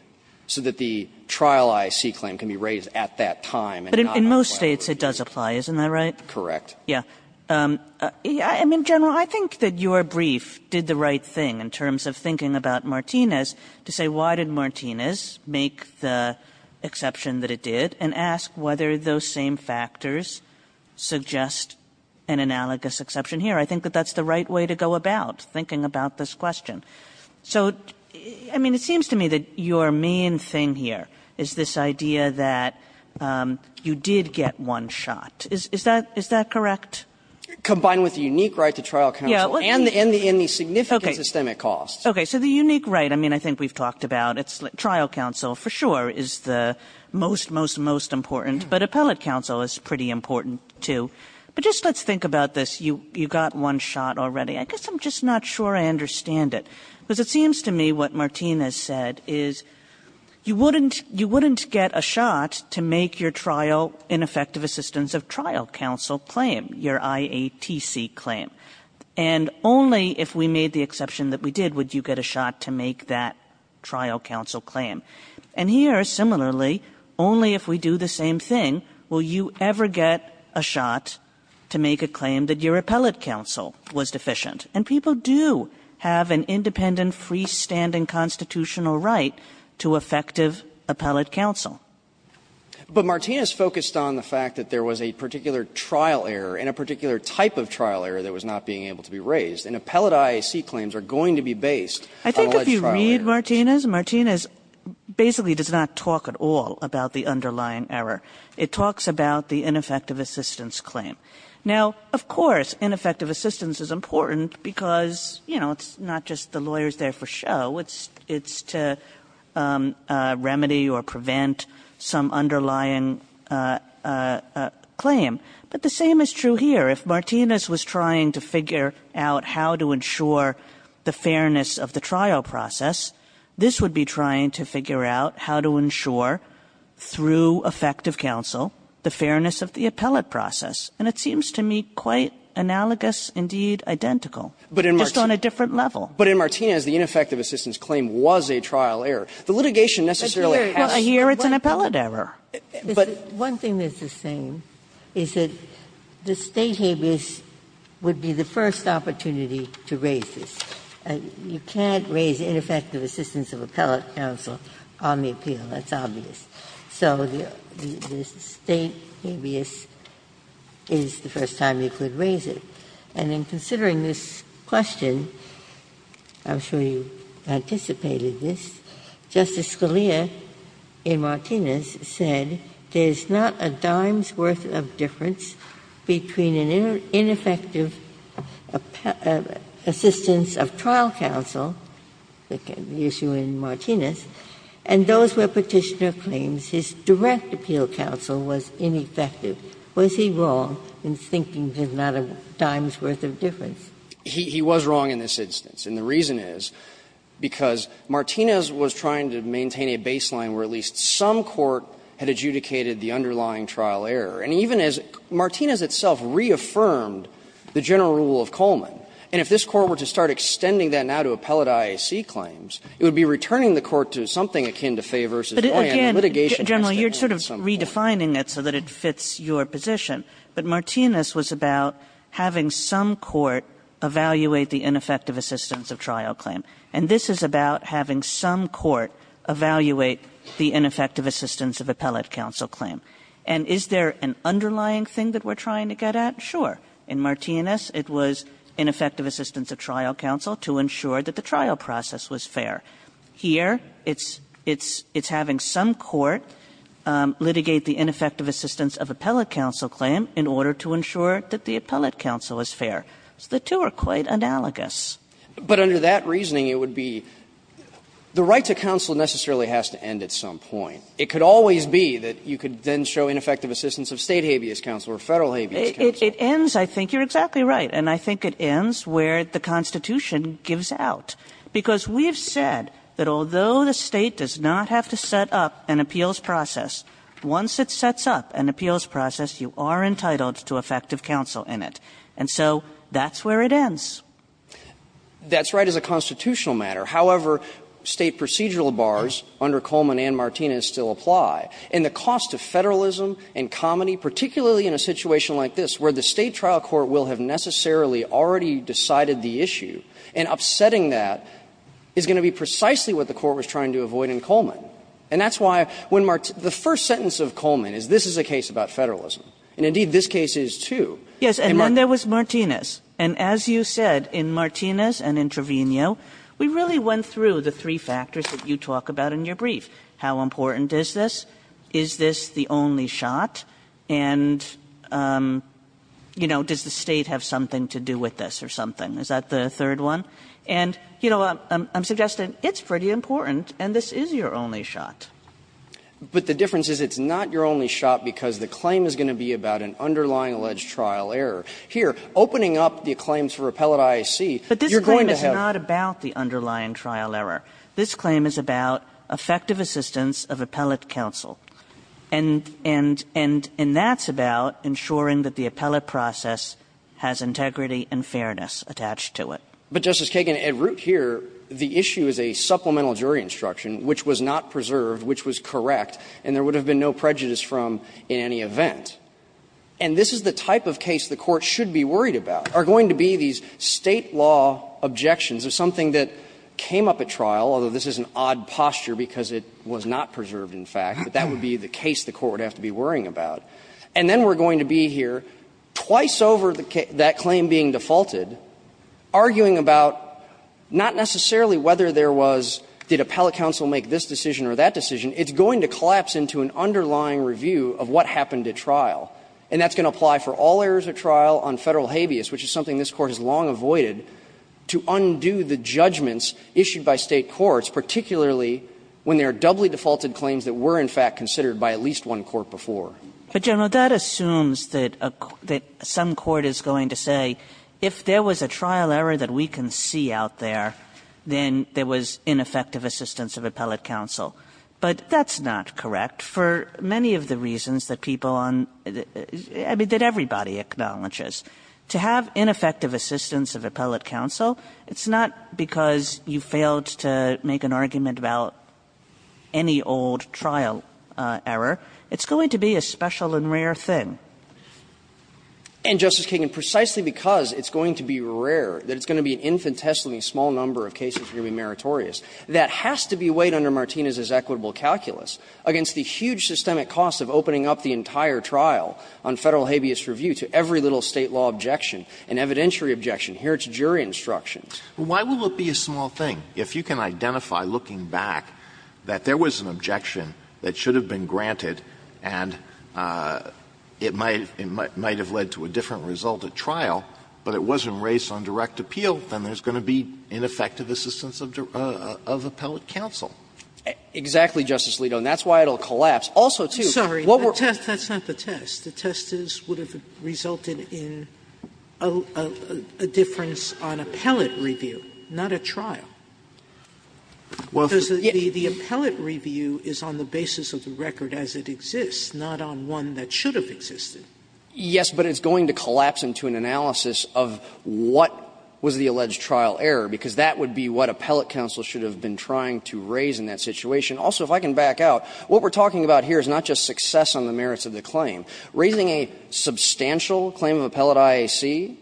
so that the trial I see claim can be raised at that time. But in most States, it does apply, isn't that right? Correct. Yes. I mean, General, I think that your brief did the right thing in terms of thinking about Martinez, to say why did Martinez make the exception that it did, and ask whether those same factors suggest an analogous exception here. I think that that's the right way to go about thinking about this question. So, I mean, it seems to me that your main thing here is this idea that you did get one shot. Is that correct? Combined with the unique right to trial counsel and the significant systemic costs. Okay. So the unique right, I mean, I think we've talked about it's like trial counsel for sure is the most, most, most important, but appellate counsel is pretty important too. But just let's think about this. You, you got one shot already. I guess I'm just not sure I understand it because it seems to me what Martinez said is you wouldn't, you wouldn't get a shot to make your trial ineffective assistance of trial counsel claim your IATC claim. And only if we made the exception that we did would you get a shot to make that trial counsel claim. And here, similarly, only if we do the same thing will you ever get a shot to make a claim that your appellate counsel was deficient. And people do have an independent freestanding constitutional right to effective appellate counsel. But Martinez focused on the fact that there was a particular trial error and a particular type of trial error that was not being able to be raised. And appellate IAC claims are going to be based on alleged trial errors. Kagan. Kagan. I think if you read Martinez, Martinez basically does not talk at all about the underlying error. It talks about the ineffective assistance claim. Now, of course, ineffective assistance is important because, you know, it's not just the lawyers there for show, it's, it's to remedy or prevent some underlying claim. But the same is true here. If Martinez was trying to figure out how to ensure the fairness of the trial process, this would be trying to figure out how to ensure, through effective counsel, the fairness of the appellate process. And it seems to me quite analogous, indeed identical, just on a different level. But in Martinez, the ineffective assistance claim was a trial error. The litigation necessarily has to be. Well, here it's an appellate error. But. Ginsburg. One thing that's the same is that the State habeas would be the first opportunity to raise this. You can't raise ineffective assistance of appellate counsel on the appeal. That's obvious. So the State habeas is the first time you could raise it. And in considering this question, I'm sure you anticipated this, Justice Scalia in Martinez said there's not a dime's worth of difference between an ineffective assistance of trial counsel, the issue in Martinez, and those where Petitioner claims his direct appeal counsel was ineffective. Was he wrong in thinking there's not a dime's worth of difference? He was wrong in this instance. And the reason is because Martinez was trying to maintain a baseline where at least some court had adjudicated the underlying trial error. And even as Martinez itself reaffirmed the general rule of Coleman, and if this court were to start extending that now to appellate IAC claims, it would be returning the court to something akin to Faye v. Oyen, the litigation has to be on some court. Kagan. Kagan. First of all, you're sort of redefining it so it fits your position, but Martinez was about having some court evaluate the ineffective assistance of trial claim, and this is about having some court evaluate the ineffective assistance of appellate counsel claim. And is there an underlying thing that we're trying to get at? Sure. In Martinez it was ineffective assistance of trial counsel to ensure that the trial process was fair. Here it's having some court litigate the ineffective assistance of appellate counsel claim in order to ensure that the appellate counsel is fair. So the two are quite analogous. But under that reasoning it would be the right to counsel necessarily has to end at some point. It could always be that you could then show ineffective assistance of State habeas counsel or Federal habeas counsel. It ends, I think you're exactly right, and I think it ends where the Constitution gives out. Because we've said that although the State does not have to set up an appeals process, once it sets up an appeals process, you are entitled to effective counsel in it. And so that's where it ends. That's right. As a constitutional matter. However, State procedural bars under Coleman and Martinez still apply. And the cost of Federalism and comity, particularly in a situation like this where the State trial court will have necessarily already decided the issue, and upsetting that is going to be precisely what the court was trying to avoid in Coleman. And that's why when the first sentence of Coleman is this is a case about Federalism, and indeed this case is, too. Kagan. And then there was Martinez. And as you said, in Martinez and in Trevino, we really went through the three factors that you talk about in your brief, how important is this, is this the only shot, and, you know, does the State have something to do with this or something. Is that the third one? And, you know, I'm suggesting it's pretty important, and this is your only shot. But the difference is it's not your only shot because the claim is going to be about an underlying alleged trial error. Here, opening up the claims for appellate IAC, you're going to have to have But this claim is not about the underlying trial error. This claim is about effective assistance of appellate counsel. And that's about ensuring that the appellate process has integrity and fairness attached to it. But, Justice Kagan, at root here, the issue is a supplemental jury instruction which was not preserved, which was correct, and there would have been no prejudice from in any event. And this is the type of case the Court should be worried about, are going to be these State law objections of something that came up at trial, although this is an odd posture because it was not preserved, in fact, but that would be the case the Court would have to be worrying about. And then we're going to be here twice over that claim being defaulted, arguing about not necessarily whether there was, did appellate counsel make this decision or that decision. It's going to collapse into an underlying review of what happened at trial, and that's going to apply for all errors at trial on Federal habeas, which is something this Court has long avoided, to undo the judgments issued by State courts, particularly when there are doubly defaulted claims that were, in fact, considered by at least one court before. Kagan. But, General, that assumes that some court is going to say, if there was a trial error that we can see out there, then there was ineffective assistance of appellate counsel. But that's not correct for many of the reasons that people on, I mean, that everybody acknowledges. To have ineffective assistance of appellate counsel, it's not because you failed to make an argument about any old trial error. It's going to be a special and rare thing. And, Justice Kagan, precisely because it's going to be rare, that it's going to be an infinitesimally small number of cases that are going to be meritorious, that has to be weighed under Martinez's equitable calculus against the huge systemic cost of opening up the entire trial on Federal habeas review to every little State law objection, an evidentiary objection. Here it's jury instruction. Why will it be a small thing if you can identify, looking back, that there was an error that was taken for granted and it might have led to a different result at trial, but it wasn't raised on direct appeal, then there's going to be ineffective assistance of appellate counsel. Sotomayor, exactly, Justice Alito, and that's why it will collapse. Also, too, what we're Sotomayor, sorry, the test, that's not the test. The test would have resulted in a difference on appellate review, not a trial. Because the appellate review is on the basis of the record as it exists, not on one that should have existed. Yes, but it's going to collapse into an analysis of what was the alleged trial error, because that would be what appellate counsel should have been trying to raise in that situation. Also, if I can back out, what we're talking about here is not just success on the merits of the claim. Raising a substantial claim of appellate IAC,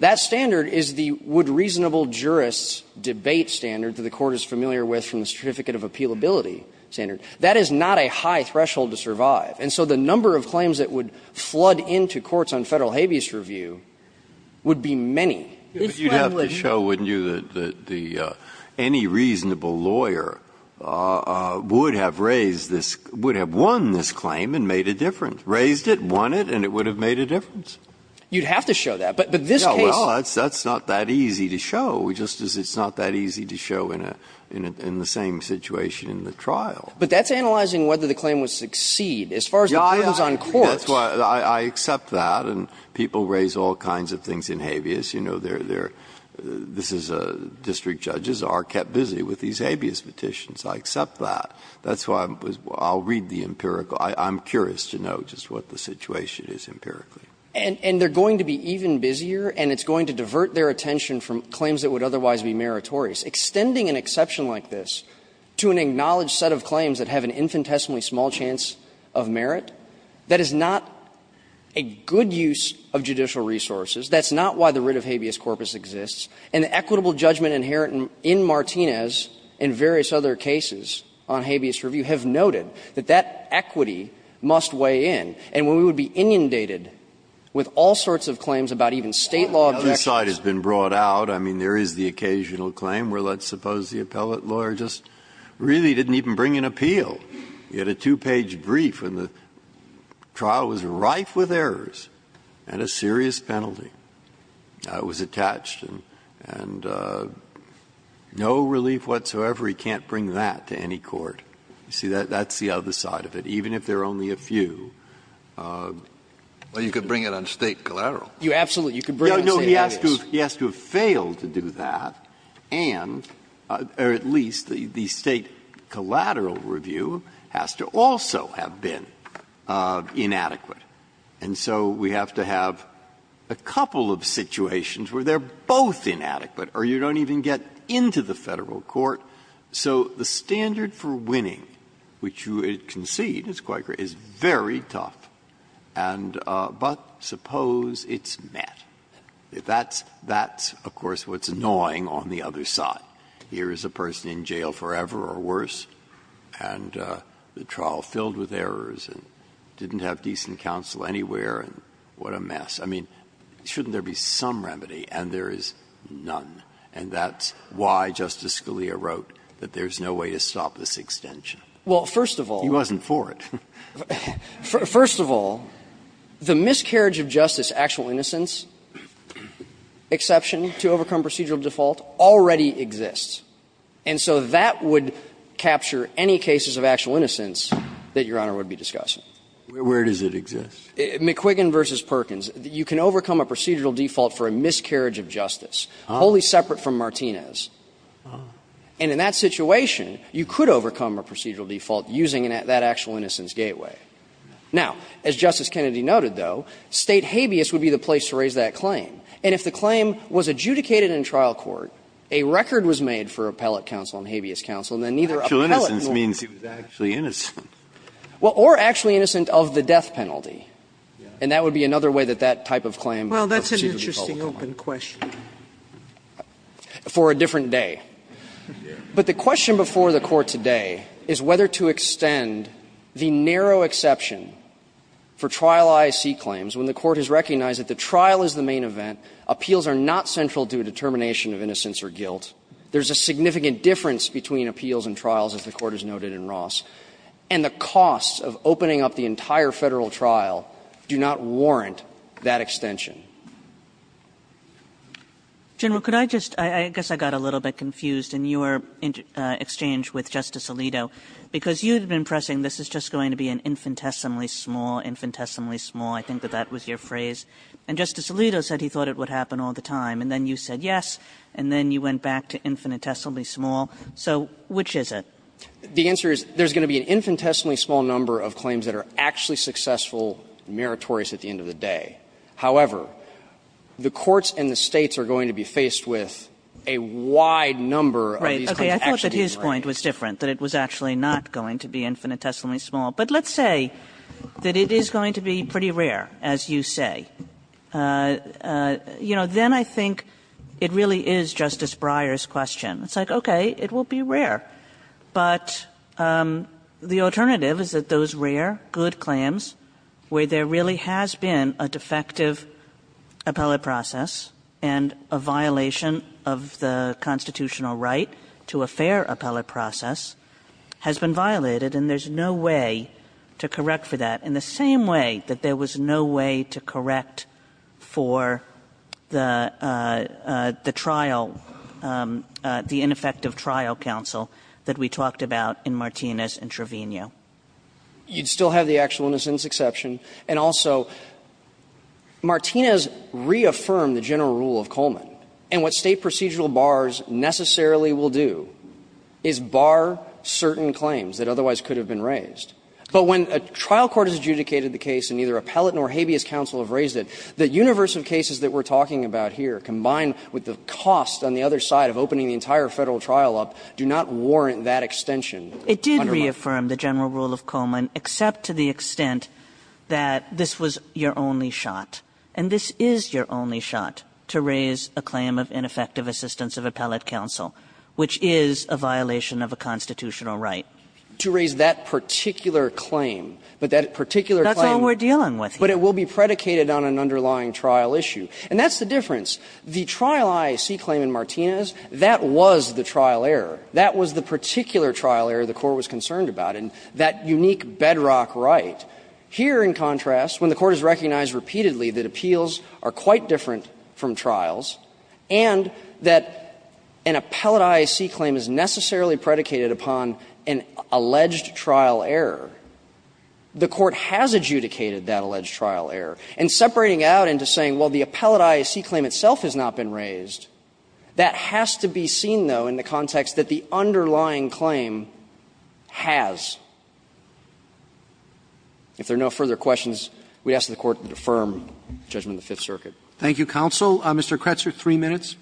that standard is the would reasonable jurists' debate standard that the Court is familiar with from the Certificate of Appealability standard. That is not a high threshold to survive. And so the number of claims that would flood into courts on Federal habeas review would be many. Breyer, you'd have to show, wouldn't you, that the any reasonable lawyer would have raised this, would have won this claim and made a difference. Raised it, won it, and it would have made a difference. You'd have to show that, but this case No, well, that's not that easy to show. We just, it's not that easy to show in a, in the same situation in the trial. But that's analyzing whether the claim would succeed. As far as the court is on courts. I accept that, and people raise all kinds of things in habeas. You know, they're, this is, district judges are kept busy with these habeas petitions. I accept that. That's why I'll read the empirical. I'm curious to know just what the situation is empirically. And they're going to be even busier, and it's going to divert their attention from claims that would otherwise be meritorious. Extending an exception like this to an acknowledged set of claims that have an infinitesimally small chance of merit, that is not a good use of judicial resources. That's not why the writ of habeas corpus exists. And the equitable judgment inherent in Martinez and various other cases on habeas review have noted that that equity must weigh in. And when we would be inundated with all sorts of claims about even State law of justice And the other side has been brought out. I mean, there is the occasional claim where, let's suppose, the appellate lawyer just really didn't even bring an appeal. He had a two-page brief, and the trial was rife with errors and a serious penalty. It was attached, and no relief whatsoever, he can't bring that to any court. You see, that's the other side of it. He has to have failed to do that, and, or at least the State collateral review has to also have been inadequate. And so we have to have a couple of situations where they're both inadequate, or you don't even get into the Federal court. So the standard for winning, which you concede is very tough, but suppose it's met. That's, of course, what's annoying on the other side. Here is a person in jail forever or worse, and the trial filled with errors and didn't have decent counsel anywhere, and what a mess. I mean, shouldn't there be some remedy, and there is none. And that's why Justice Scalia wrote that there's no way to stop this extension. He wasn't for it. First of all, the miscarriage of justice, actual innocence exception to overcome procedural default, already exists. And so that would capture any cases of actual innocence that Your Honor would be discussing. Where does it exist? McQuiggan v. Perkins. You can overcome a procedural default for a miscarriage of justice, wholly separate from Martinez. And in that situation, you could overcome a procedural default using that actual innocence gateway. Now, as Justice Kennedy noted, though, State habeas would be the place to raise that claim. And if the claim was adjudicated in trial court, a record was made for appellate counsel and habeas counsel, and then neither appellate will be able to prove it. Breyer, or actually innocent of the death penalty, and that would be another way that that type of claim would be possible. Sotomayor, Well, that's an interesting open question. McQuiggan, For a different day. But the question before the Court today is whether to extend the narrow exception for trial I.C. claims when the Court has recognized that the trial is the main event, appeals are not central to a determination of innocence or guilt, there's a significant difference between appeals and trials, as the Court has noted in Ross, and the costs of opening up the entire Federal trial do not warrant that extension. Kagan, General, could I just – I guess I got a little bit confused in your exchange with Justice Alito, because you had been pressing this is just going to be an infinitesimally small, infinitesimally small, I think that that was your phrase. And Justice Alito said he thought it would happen all the time, and then you said yes, and then you went back to infinitesimally small. So which is it? McQuiggan, The answer is there's going to be an infinitesimally small number of claims that are actually successful and meritorious at the end of the day. However, the courts and the States are going to be faced with a wide number of these Kagan, Right. Okay. I thought that his point was different, that it was actually not going to be infinitesimally small. But let's say that it is going to be pretty rare, as you say. You know, then I think it really is Justice Breyer's question. It's like, okay, it will be rare. But the alternative is that those rare, good claims where there really has been a deferred ineffective appellate process and a violation of the constitutional right to a fair appellate process has been violated, and there's no way to correct for that, in the same way that there was no way to correct for the trial, the ineffective trial counsel that we talked about in Martinez and Trevino. You'd still have the actualness in this exception. And also, Martinez reaffirmed the general rule of Coleman. And what State procedural bars necessarily will do is bar certain claims that otherwise could have been raised. But when a trial court has adjudicated the case and neither appellate nor habeas counsel have raised it, the universe of cases that we're talking about here, combined with the cost on the other side of opening the entire Federal trial up, do not warrant that extension. It did reaffirm the general rule of Coleman, except to the extent that this was your only shot. And this is your only shot, to raise a claim of ineffective assistance of appellate counsel, which is a violation of a constitutional right. To raise that particular claim, but that particular claim. That's all we're dealing with. But it will be predicated on an underlying trial issue. And that's the difference. The trial I see claim in Martinez, that was the trial error. That was the particular trial error the Court was concerned about, and that unique bedrock right. Here, in contrast, when the Court has recognized repeatedly that appeals are quite different from trials, and that an appellate IAC claim is necessarily predicated upon an alleged trial error, the Court has adjudicated that alleged trial error. And separating out into saying, well, the appellate IAC claim itself has not been raised, that has to be seen, though, in the context that the underlying claim has. If there are no further questions, we ask that the Court defer judgment of the Fifth Circuit. Roberts. Thank you, counsel. Mr. Kretzer, three minutes.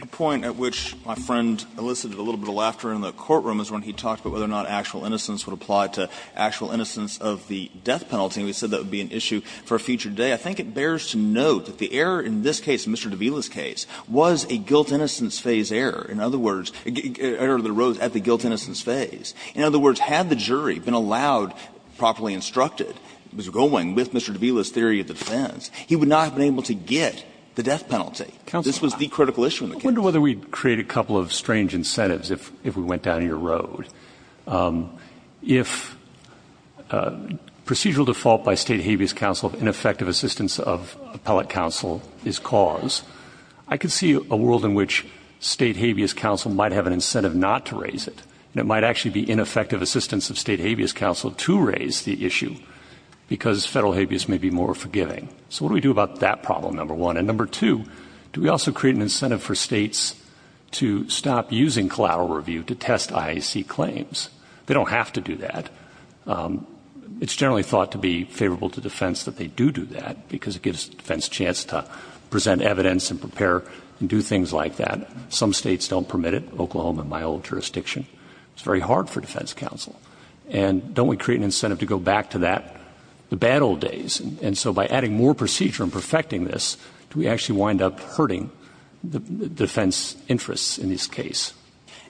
A point at which my friend elicited a little bit of laughter in the courtroom is when he talked about whether or not actual innocence would apply to actual innocence of the death penalty. We said that would be an issue for a future day. I think it bears to note that the error in this case, Mr. de Villa's case, was a guilt innocence phase error. In other words, error that arose at the guilt innocence phase. In other words, had the jury been allowed, properly instructed, was going with Mr. de Villa's theory of defense, he would not have been able to get the death penalty. This was the critical issue in the case. I wonder whether we'd create a couple of strange incentives if we went down your road. If procedural default by state habeas counsel of ineffective assistance of appellate counsel is cause, I could see a world in which state habeas counsel might have an incentive not to raise it. And it might actually be ineffective assistance of state habeas counsel to raise the issue because federal habeas may be more forgiving. So what do we do about that problem, number one? And number two, do we also create an incentive for states to stop using collateral review to test IAC claims? They don't have to do that. It's generally thought to be favorable to defense that they do do that because it gives defense a chance to present evidence and prepare and do things like that. Some states don't permit it, Oklahoma, my old jurisdiction. It's very hard for defense counsel. And don't we create an incentive to go back to that, the bad old days? And so by adding more procedure and perfecting this, do we actually wind up hurting the defense interests in this case?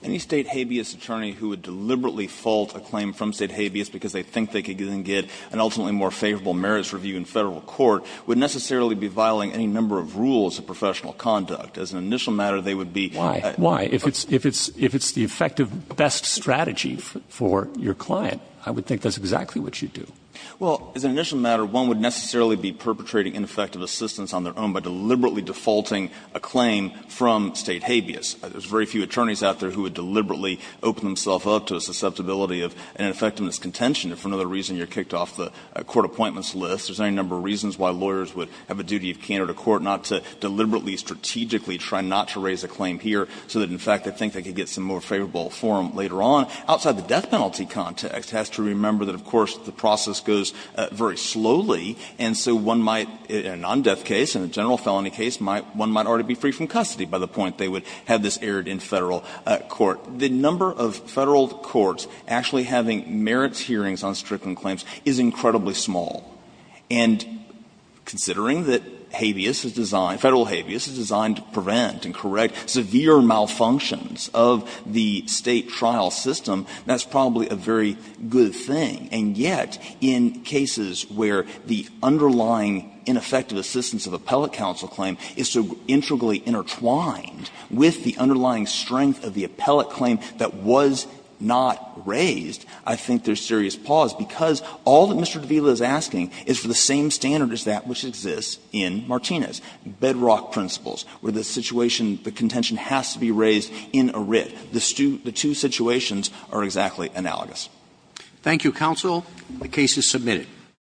Any state habeas attorney who would deliberately fault a claim from state habeas because they think they can get an ultimately more favorable merits review in federal court would necessarily be violating any number of rules of professional conduct. As an initial matter, they would be why? If it's the effective best strategy for your client, I would think that's exactly what you'd do. Well, as an initial matter, one would necessarily be perpetrating ineffective assistance on their own by deliberately defaulting a claim from state habeas. There's very few attorneys out there who would deliberately open themselves up to a susceptibility of an effectiveness contention if for another reason you're kicked off the court appointments list. There's any number of reasons why lawyers would have a duty of candor to court not to deliberately, strategically try not to raise a claim here so that, in fact, they think they could get some more favorable forum later on. Outside the death penalty context, it has to remember that, of course, the process goes very slowly. And so one might, in a non-death case, in a general felony case, one might already be free from custody by the point they would have this erred in Federal court. The number of Federal courts actually having merits hearings on strickling claims is incredibly small. And considering that habeas is designed, Federal habeas, is designed to prevent and correct severe malfunctions of the State trial system, that's probably a very good thing. And yet, in cases where the underlying ineffective assistance of appellate counsel claim is so integrally intertwined with the underlying strength of the appellate claim that was not raised, I think there's serious pause, because all that Mr. Davila is asking is for the same standard as that which exists in Martinez, bedrock principles, where the situation, the contention has to be raised in a writ. The two situations are exactly analogous. Roberts. Thank you, counsel. The case is submitted.